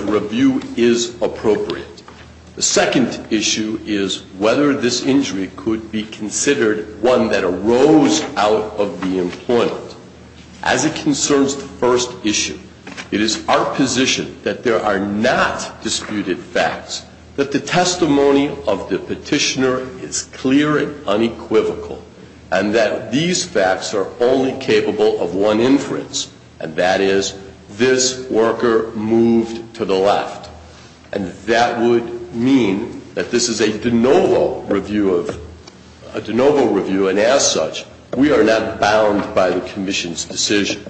review is appropriate. The second issue is whether this injury could be considered one that arose out of the employment. As it concerns the first issue, it is our position that there are not disputed facts, that the testimony of the petitioner is clear and unequivocal, and that these facts are only capable of one inference, and that is, this worker moved to the left. And that would mean that this is a de novo review of, a de novo review and as such, we are not bound by the Commission's decision.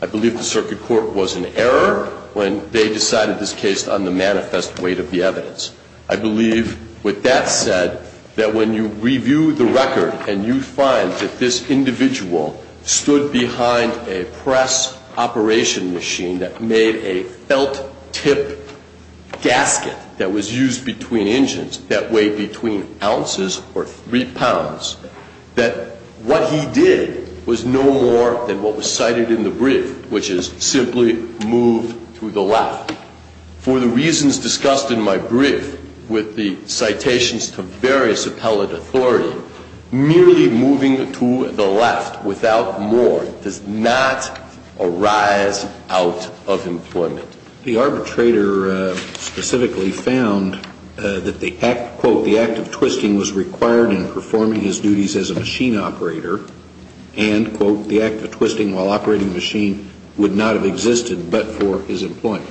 I believe the Circuit Court was in error when they decided this case on the manifest weight of the evidence. I believe with that said, that when you review the record and you find that this individual stood behind a press operation machine that made a felt tip gasket that was used between engines that weighed between ounces or three pounds, that what he did was no more than what was cited in the brief, which is simply move to the left. For the reasons discussed in my brief with the citations to various appellate authority, merely moving to the left without more does not arise out of employment. The arbitrator specifically found that the act, quote, the act of twisting was required in performing his duties as a machine operator and, quote, the act of twisting while operating the machine would not have existed but for his employment.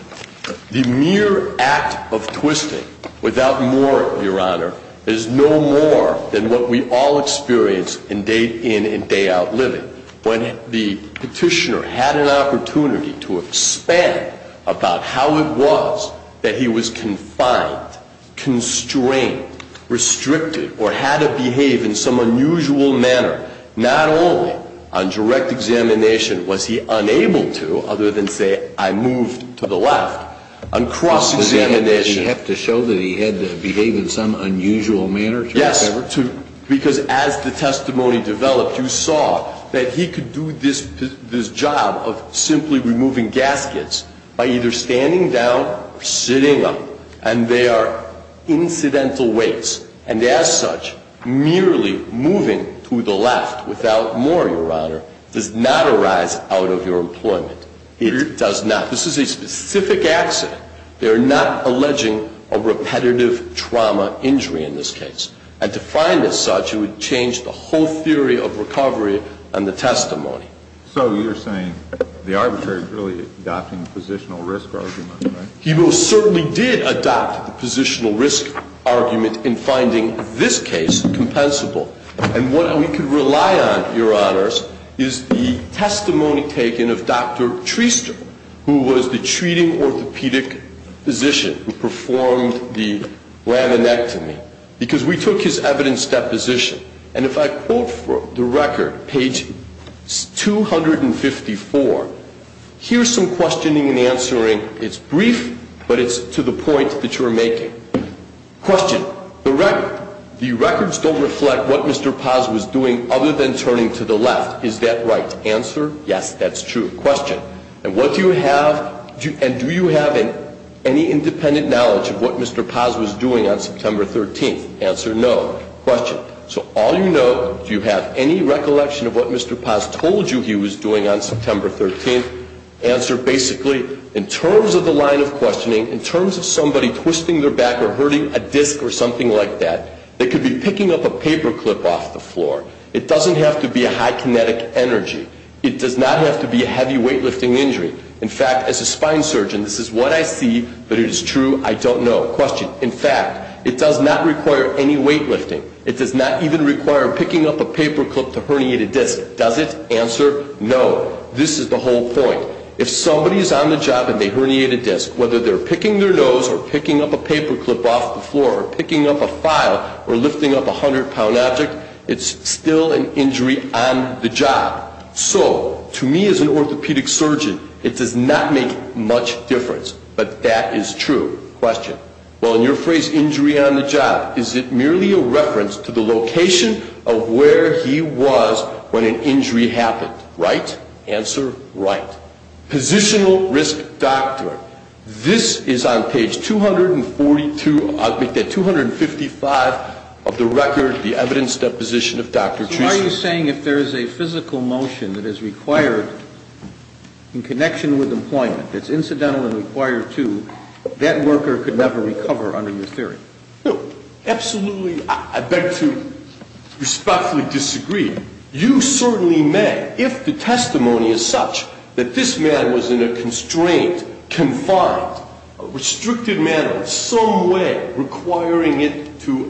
The mere act of twisting without more, Your Honor, is no more than what we all experience in day in and day out living. When the petitioner had an opportunity to expand about how it was that he was confined, constrained, restricted, or had to behave in some unusual manner, not only on direct examination was he unable to, other than say, I moved to the left, on cross-examination. He had to show that he had to behave in some unusual manner? Yes. Because as the testimony developed, you saw that he could do this job of simply removing gaskets by either standing down or sitting them. And they are incidental weights. And as such, merely moving to the left without more, Your Honor, does not arise out of your employment. It does not. This is a specific accident. They are not alleging a repetitive trauma injury in this case. And to find this such, it would change the whole theory of recovery and the testimony. So you're saying the arbitrator is really adopting the positional risk argument, right? He most certainly did adopt the positional risk argument in finding this case compensable. And what we can rely on, Your Honors, is the testimony taken of Dr. Treister, who was the treating orthopedic physician who performed the laminectomy. Because we took his evidence deposition. And if I quote from the record, page 254, here's some questioning and answering. It's brief, but it's to the point that you're making. Question. The records don't reflect what Mr. Paz was doing other than turning to the left. Is that right? Answer, yes, that's true. Question. And what do you have, and do you have any independent knowledge of what Mr. Paz was doing on September 13th? Answer, no. Question. So all you know, do you have any recollection of what Mr. Paz told you he was doing on September 13th? Answer, basically, in terms of the line of questioning, in terms of somebody twisting their back or hurting a disc or something like that, they could be picking up a paper clip off the floor. It doesn't have to be a high kinetic energy. It does not have to be a heavy weightlifting injury. In fact, as a spine surgeon, this is what I see, but it is true, I don't know. Question. In fact, it does not require any weightlifting. It does not even require picking up a paper clip to herniate a disc. Does it? Answer, no. This is the whole point. If somebody is on the job and they herniate a disc, whether they're picking their nose or picking up a paper clip off the floor or picking up a file or lifting up a hundred-pound object, it's still an injury on the job. So, to me as an orthopedic surgeon, it does not make much difference, but that is true. Question. Well, in your phrase, injury on the job, is it merely a reference to the location of where he was when an injury happened, right? Answer, right. Positional risk doctor. This is on page 242, I think that 255 of the record, the evidence deposition of Dr. Treason. So are you saying if there is a physical motion that is required in connection with employment that's incidental and required to, that worker could never recover under your theory? No, absolutely. I beg to respectfully disagree. You certainly may, if the testimony is such that this man was in a constraint, confined, restricted manner of some way requiring it to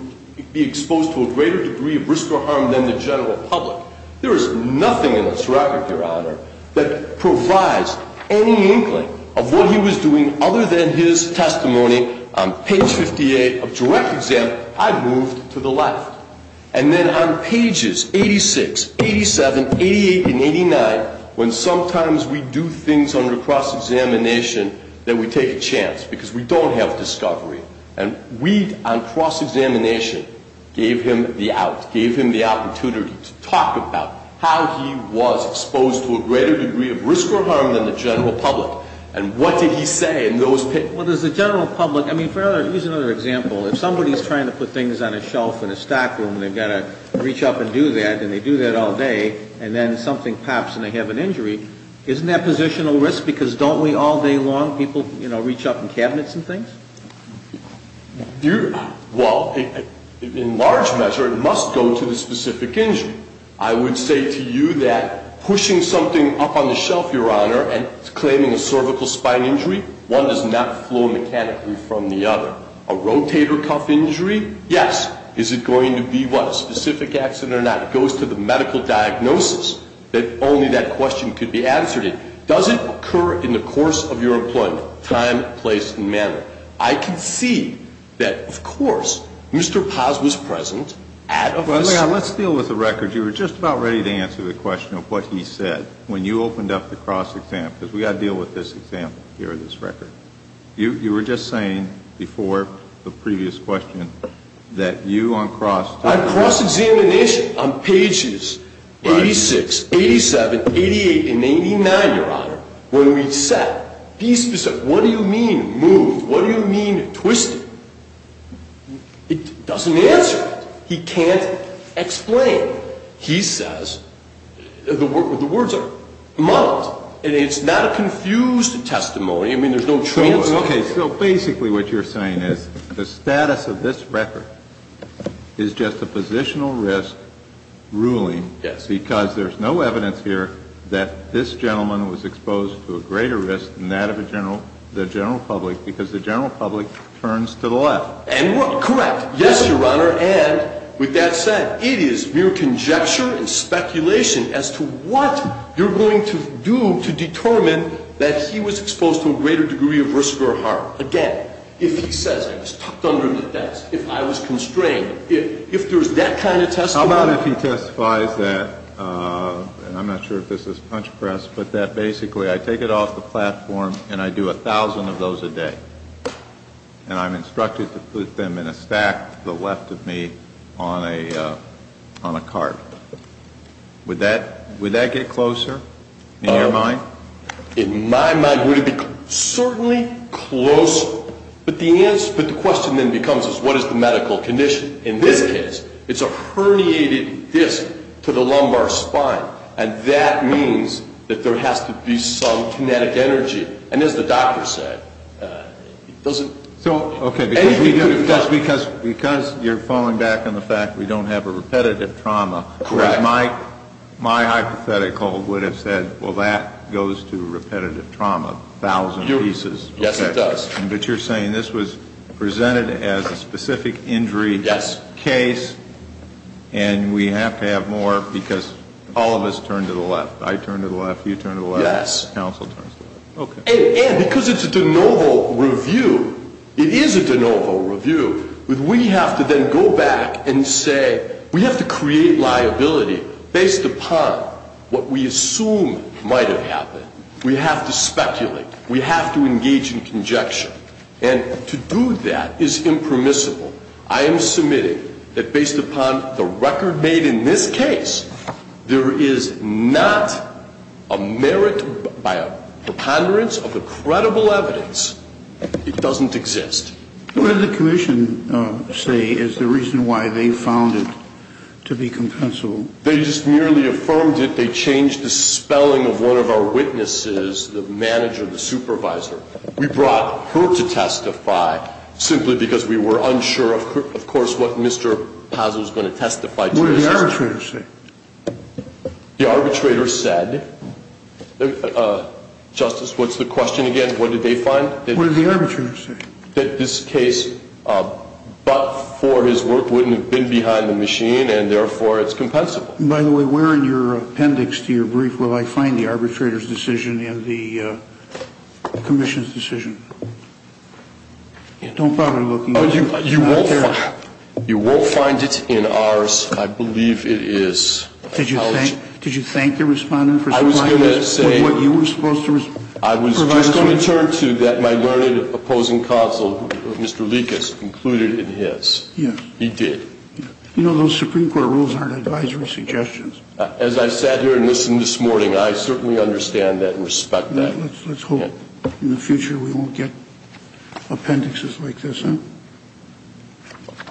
be exposed to a greater degree of risk or harm than the general public. There is nothing in this record, Your Honor, that provides any inkling of what he was doing other than his testimony on page 58 of direct exam, I moved to the left. And then on pages 86, 87, 88, and 89, when sometimes we do things under cross-examination, then we take a chance because we don't have discovery. And we, on cross-examination, gave him the out, gave him the opportunity to talk about how he was exposed to a greater degree of risk or harm than the general public. And what did he say in those pages? Well, does the general public, I mean, for other, here's another example. If somebody's trying to put things on a shelf in a stockroom and they've got to reach up and do that, and they do that all day, and then something pops and they have an injury, isn't that positional risk because don't we all day long, people, you know, reach up in cabinets and things? You, well, in large measure, it must go to the specific injury. I would say to you that pushing something up on the shelf, Your Honor, and claiming a cervical spine injury, one does not flow mechanically from the other. A rotator cuff injury, yes. Is it going to be what, a specific accident or not? It goes to the medical diagnosis that only that question could be answered in. Does it occur in the course of your employment, time, place, and manner? I can see that, of course, Mr. Paz was present at a visit. Let's deal with the record. You were just about ready to answer the question of what he said when you opened up the cross-exam, because we've got to deal with this example here, this record. You were just saying before the previous question that you on cross- I cross-examined the issue on pages 86, 87, 88, and 89, Your Honor, when we said, be specific, what do you mean moved? What do you mean twisted? It doesn't answer it. He can't explain it. He says, the words are muddled, and it's not a confused testimony. I mean, there's no translation. Okay. So basically what you're saying is the status of this record is just a positional risk ruling because there's no evidence here that this gentleman was exposed to a greater risk than that of the general public, because the general public turns to the left. Correct. Yes, Your Honor. And with that said, it is mere conjecture and speculation as to what you're going to do to determine that he was exposed to a greater degree of risk or harm. Again, if he says I was tucked under the desk, if I was constrained, if there's that kind of testimony- How about if he testifies that, and I'm not sure if this is punch press, but that basically I take it off the platform and I do a thousand of those a day, and I'm instructed to put them in a stack to the left of me on a card. Would that get closer in your mind? In my mind, would it be certainly closer, but the question then becomes is what is the medical condition? In this case, it's a herniated disc to the lumbar spine, and that means that there has to be some kinetic energy. And as the doctor said, it doesn't- Because you're falling back on the fact that we don't have a repetitive trauma, my hypothetical would have said, well, that goes to repetitive trauma, a thousand pieces. Yes, it does. But you're saying this was presented as a specific injury case, and we have to have more, because all of us turn to the left. I turn to the left, you turn to the left- Yes. Counsel turns to the left. And because it's a de novo review, it is a de novo review, but we have to then go back and say we have to create liability based upon what we assume might have happened. We have to speculate. We have to engage in conjecture. And to do that is impermissible. I am submitting that based upon the record made in this case, there is not a merit by a preponderance of the credible evidence. It doesn't exist. What did the commission say is the reason why they found it to be compensable? They just merely affirmed it. They changed the spelling of one of our witnesses, the one who testified. What did the arbitrator say? The arbitrator said, Justice, what's the question again? What did they find? What did the arbitrator say? That this case, but for his work, wouldn't have been behind the machine, and therefore it's compensable. By the way, where in your appendix to your brief will I find the arbitrator's decision and the commission's decision? Don't bother looking. You won't find it in ours. I believe it is. Did you thank your respondent for supplying us with what you were supposed to provide us with? I was just going to turn to that my learned opposing counsel, Mr. Likas, included it in his. Yes. He did. You know those Supreme Court rules aren't advisory suggestions. As I sat here and listened this morning, I certainly understand that and respect that. Let's hope in the future we won't get appendixes like this.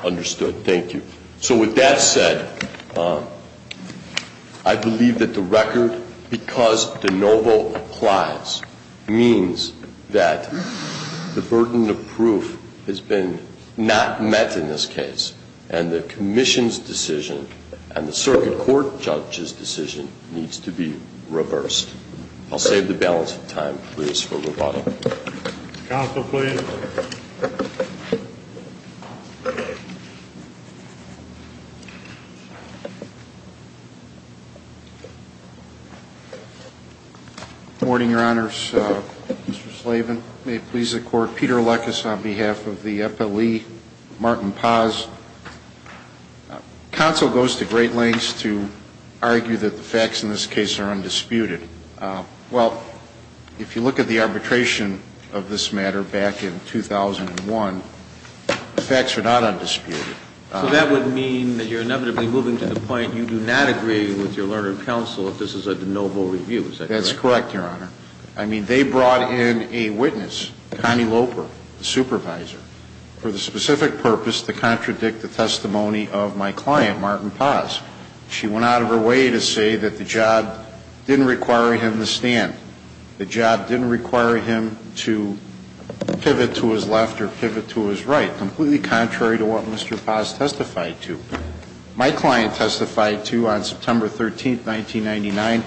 Understood. Thank you. So with that said, I believe that the record, because de novo applies, means that the burden of proof has been not met in this case, and the commission's decision and the circuit court judge's decision needs to be reversed. I'll save the balance of time, please, for rebuttal. Counsel, please. Good morning, Your Honors. Mr. Slavin, may it please the Court. Peter Likas on behalf of the FLE, Martin Paz. Counsel goes to great lengths to argue that the facts in this case are undisputed. Well, if you look at the arbitration of this matter back in 2001, the facts are not undisputed. So that would mean that you're inevitably moving to the point you do not agree with your learned counsel if this is a de novo review. Is that correct? That's correct, Your Honor. I mean, they brought in a witness, Connie Loper, the supervisor, for the specific purpose to contradict the testimony of my client, Martin Paz. She went out of her way to say that the job didn't require him to stand, the job didn't require him to pivot to his left or pivot to his right, completely contrary to what Mr. Paz testified to. My client testified to, on September 13th, 1999,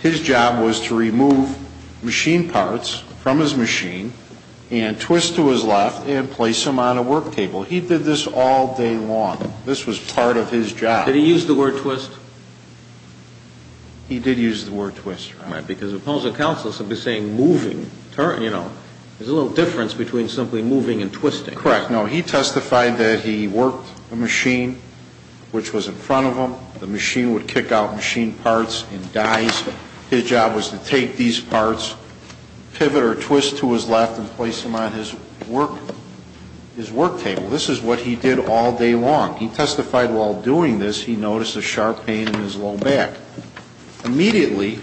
his job was to remove machine parts from his machine and twist to his left and place them on a work table. He did this all day long. This was part of his job. Did he use the word twist? He did use the word twist, Your Honor. All right. Because opposed to counsel, somebody saying moving, you know, there's a little difference between simply moving and twisting. Correct. No, he testified that he worked the machine, which was in front of him. The machine would kick out machine parts and dies. His job was to take these parts, pivot or twist to his left, and place them on his work table. This is what he did all day long. He testified while doing this, he noticed a sharp pain in his low back. Immediately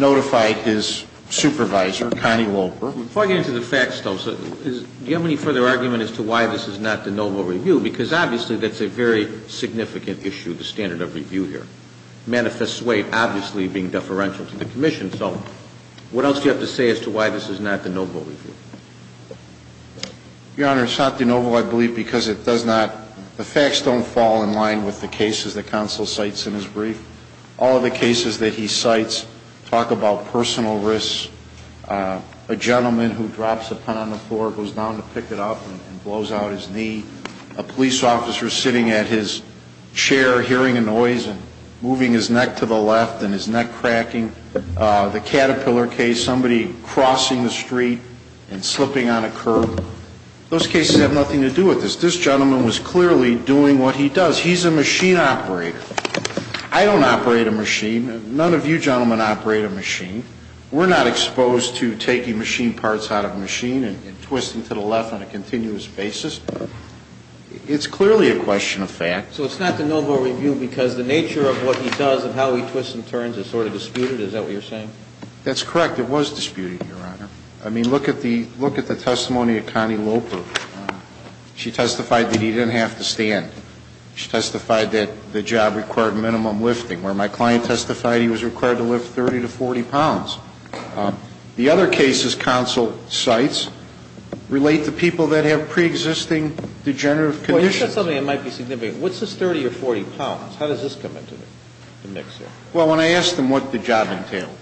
notified his supervisor, Connie Loper. Before I get into the facts, though, do you have any further argument as to why this is not de novo review? Because obviously that's a very significant issue, the standard of review here. Manifests sway, obviously, being deferential to the commission. So what else do you have to say as to why this is not de novo review? Your Honor, it's not de novo, I believe, because it does not – the facts don't fall in line with the cases that counsel cites in his brief. All of the cases that he cites talk about personal risks. A gentleman who drops a pen on the floor, goes down to pick it up and blows out his knee. A police officer sitting at his chair hearing a noise and moving his neck to the left and his neck cracking. The Caterpillar case, somebody crossing the street and slipping on a curb. Those cases have nothing to do with this. This gentleman was clearly doing what he does. He's a machine operator. I don't operate a machine. None of you gentlemen operate a machine. We're not exposed to taking machine parts out of a machine and twisting to the left on a continuous basis. It's clearly a question of fact. So it's not de novo review because the nature of what he does and how he twists and turns is sort of disputed? Is that what you're saying? That's correct. It was disputed, Your Honor. I mean, look at the – look at the testimony of Connie Loper. She testified that he didn't have to stand. She testified that the job required minimum lifting, where my client testified he was required to lift 30 to 40 pounds. The other cases counsel cites relate to people that have preexisting degenerative conditions. Well, you said something that might be significant. What's this 30 or 40 pounds? How does this come into the mix here? Well, when I asked him what the job entailed,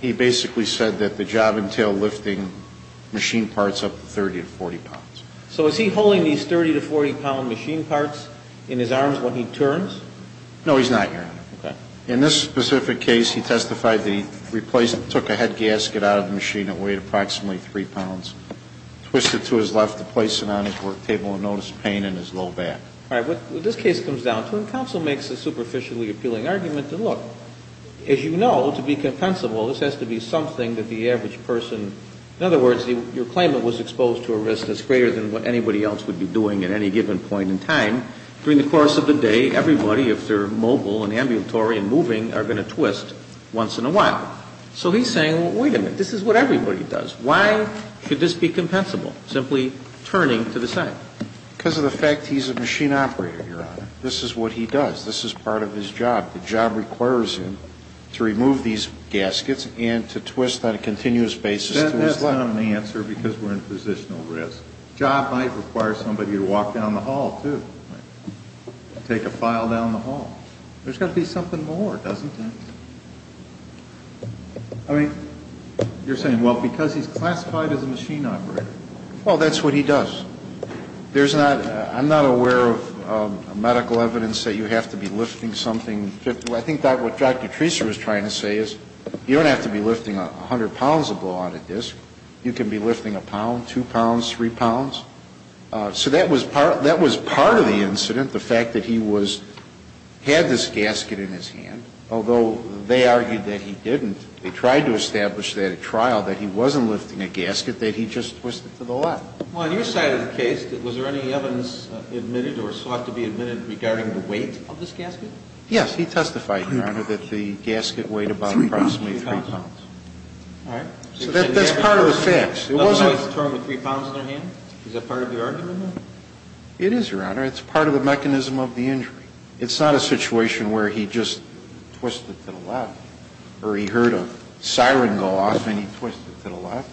he basically said that the job entailed lifting machine parts up to 30 to 40 pounds. So is he holding these 30 to 40 pound machine parts in his arms when he turns? No, he's not, Your Honor. Okay. In this specific case, he testified that he took a head gasket out of the machine that weighed approximately 3 pounds, twisted to his left to place it on his work table and noticed pain in his low back. All right. What this case comes down to, and counsel makes a superficially appealing argument, is, look, as you know, to be compensable, this has to be something that the average person – the average person would be doing at any given point in time. During the course of the day, everybody, if they're mobile and ambulatory and moving, are going to twist once in a while. So he's saying, well, wait a minute. This is what everybody does. Why should this be compensable, simply turning to the side? Because of the fact he's a machine operator, Your Honor. This is what he does. This is part of his job. The job requires him to remove these gaskets and to twist on a continuous basis to his left. I don't have an answer because we're in positional risk. Job might require somebody to walk down the hall, too. Take a file down the hall. There's got to be something more, doesn't it? I mean, you're saying, well, because he's classified as a machine operator. Well, that's what he does. There's not – I'm not aware of medical evidence that you have to be lifting something – Well, I think what Dr. Treaser was trying to say is you don't have to be lifting 100 pounds to blow out a disc. You can be lifting a pound, two pounds, three pounds. So that was part of the incident, the fact that he had this gasket in his hand, although they argued that he didn't. They tried to establish that at trial, that he wasn't lifting a gasket, that he just twisted to the left. Well, on your side of the case, was there any evidence admitted or sought to be admitted regarding the weight of this gasket? Yes. He testified, Your Honor, that the gasket weighed about approximately three pounds. Three pounds. All right. So that's part of the facts. It wasn't – Another guy is towing a three pounds in their hand? Is that part of the argument? It is, Your Honor. It's part of the mechanism of the injury. It's not a situation where he just twisted to the left or he heard a siren go off and he twisted to the left.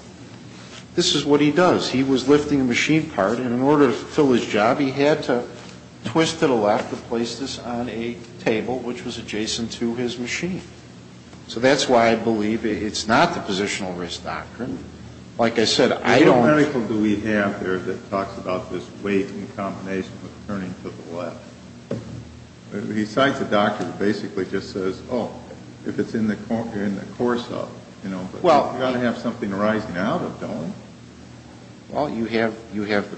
This is what he does. He was lifting a machine part, and in order to fulfill his job, he had to twist to the left to place this on a table, which was adjacent to his machine. So that's why I believe it's not the positional risk doctrine. Like I said, I don't – What miracle do we have there that talks about this weight in combination with turning to the left? He cites a doctor who basically just says, oh, if it's in the course of, you know, but you've got to have something rising out of, don't you? Well, you have the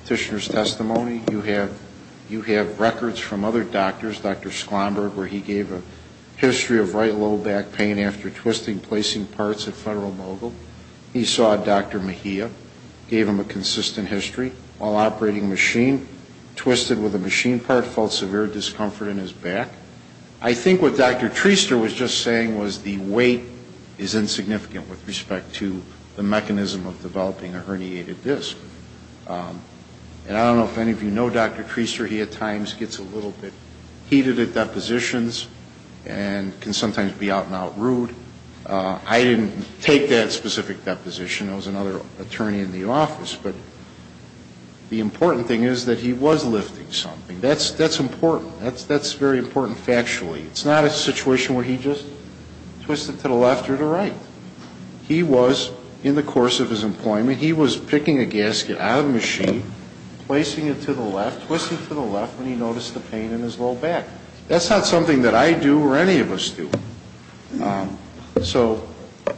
petitioner's testimony. You have records from other doctors, Dr. Sklomberg, where he gave a history of right low back pain after twisting, placing parts at Federal Mogul. He saw Dr. Mejia, gave him a consistent history. While operating the machine, twisted with a machine part, felt severe discomfort in his back. I think what Dr. Treister was just saying was the weight is insignificant with respect to the mechanism of developing a herniated disc. And I don't know if any of you know Dr. Treister. He at times gets a little bit heated at depositions and can sometimes be out and out rude. I didn't take that specific deposition. I was another attorney in the office. But the important thing is that he was lifting something. That's important. That's very important factually. It's not a situation where he just twisted to the left or to the right. He was, in the course of his employment, he was picking a gasket out of the machine, placing it to the left, twisting to the left when he noticed the pain in his low back. That's not something that I do or any of us do. So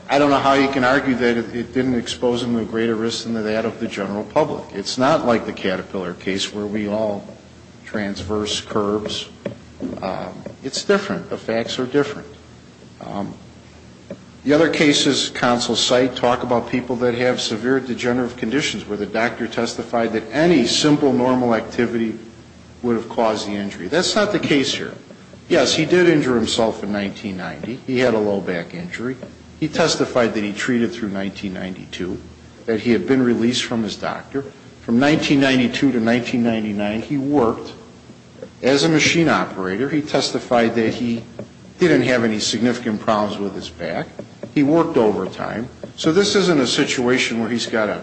I don't know how you can argue that it didn't expose him to greater risk than that of the general public. It's not like the Caterpillar case where we all transverse curbs. It's different. The facts are different. The other cases counsel cite talk about people that have severe degenerative conditions where the doctor testified that any simple normal activity would have caused the injury. That's not the case here. Yes, he did injure himself in 1990. He had a low back injury. He testified that he treated through 1992, that he had been released from his doctor. From 1992 to 1999, he worked as a machine operator. He testified that he didn't have any significant problems with his back. He worked overtime. So this isn't a situation where he's got a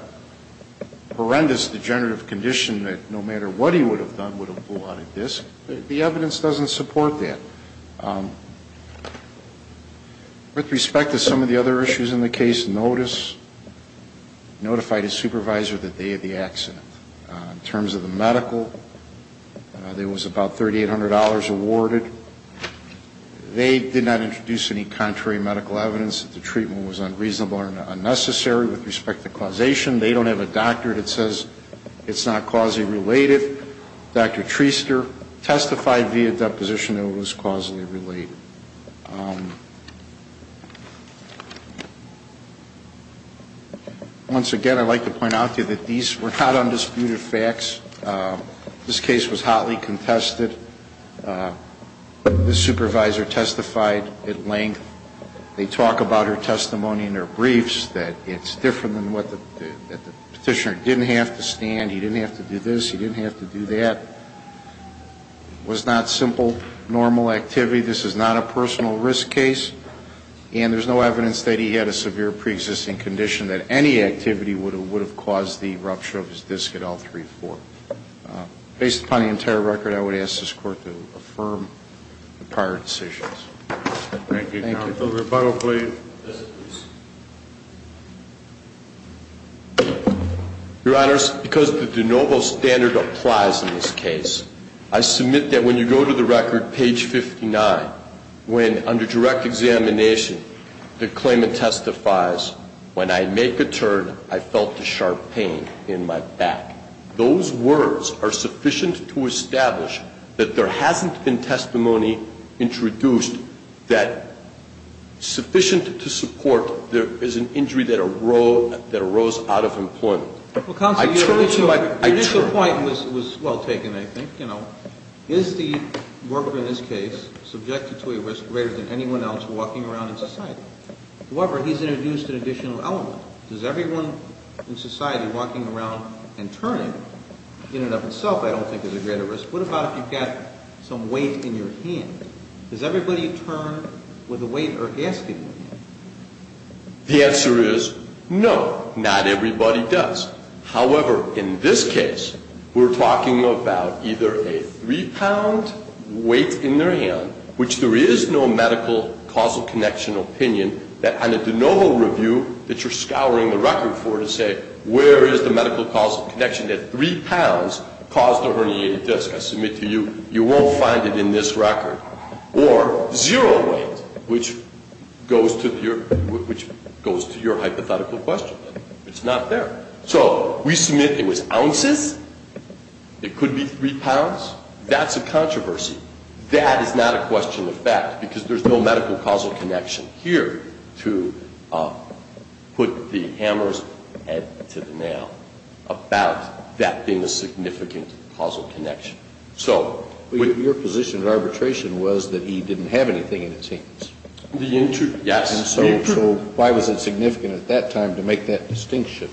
horrendous degenerative condition that no matter what he would have done would have blew out a disc. The evidence doesn't support that. With respect to some of the other issues in the case, notice, notified his supervisor that they had the accident. In terms of the medical, there was about $3,800 awarded. They did not introduce any contrary medical evidence that the treatment was unreasonable or unnecessary. With respect to causation, they don't have a doctor that says it's not causally related. In the brief, Dr. Treister testified via deposition that it was causally related. Once again, I'd like to point out to you that these were not undisputed facts. This case was hotly contested. The supervisor testified at length. They talk about her testimony in their briefs, that it's different than what the petitioner didn't have to stand. He didn't have to do this. He didn't have to do that. It was not simple, normal activity. This is not a personal risk case. And there's no evidence that he had a severe preexisting condition that any activity would have caused the rupture of his disc at L3-4. Based upon the entire record, I would ask this Court to affirm the prior decisions. Thank you, counsel. Rebuttal, please. Yes, please. Your Honors, because the de novo standard applies in this case, I submit that when you go to the record, page 59, when under direct examination, the claimant testifies, when I make a turn, I felt a sharp pain in my back. Those words are sufficient to establish that there hasn't been testimony introduced that sufficient to support there is an injury that arose out of employment. I turn to my- Your initial point was well taken, I think. Is the worker in this case subjected to a risk greater than anyone else walking around in society? However, he's introduced an additional element. Does everyone in society walking around and turning in and of itself I don't think is a greater risk. What about if you've got some weight in your hand? Does everybody turn with a weight or asking with a weight? The answer is no, not everybody does. However, in this case, we're talking about either a 3-pound weight in their hand, which there is no medical causal connection opinion that under de novo review that you're scouring the record for to say, where is the medical causal connection that 3 pounds caused a herniated disc? I submit to you, you won't find it in this record. Or zero weight, which goes to your hypothetical question. It's not there. So we submit it was ounces. It could be 3 pounds. That's a controversy. That is not a question of fact because there's no medical causal connection here to put the hammer's head to the nail about that being a significant causal connection. Your position in arbitration was that he didn't have anything in his hands. Yes. So why was it significant at that time to make that distinction?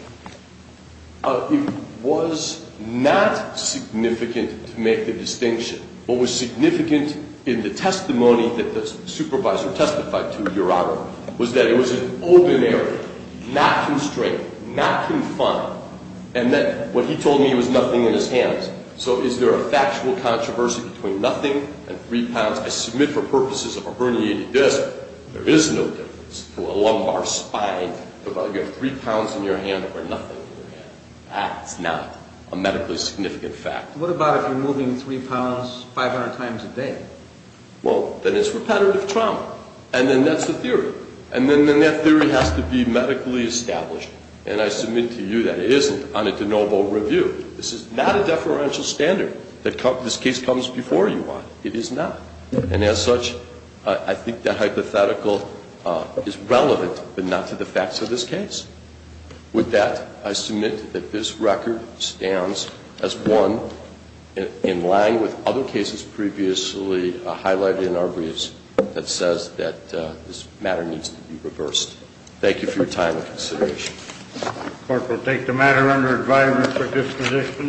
It was not significant to make the distinction. What was significant in the testimony that the supervisor testified to, Your Honor, was that it was an open area, not constrained, not confined. And that what he told me was nothing in his hands. So is there a factual controversy between nothing and 3 pounds? I submit for purposes of a herniated disc, there is no difference to a lumbar spine. You have 3 pounds in your hand or nothing in your hand. That's not a medically significant fact. What about if you're moving 3 pounds 500 times a day? Well, then it's repetitive trauma. And then that's the theory. And then that theory has to be medically established. And I submit to you that it isn't on a de novo review. This is not a deferential standard. This case comes before you on it. It is not. And as such, I think that hypothetical is relevant, but not to the facts of this case. With that, I submit that this record stands as one in line with other cases previously highlighted in our briefs that says that this matter needs to be reversed. Thank you for your time and consideration. The Court will take the matter under advisement for disposition.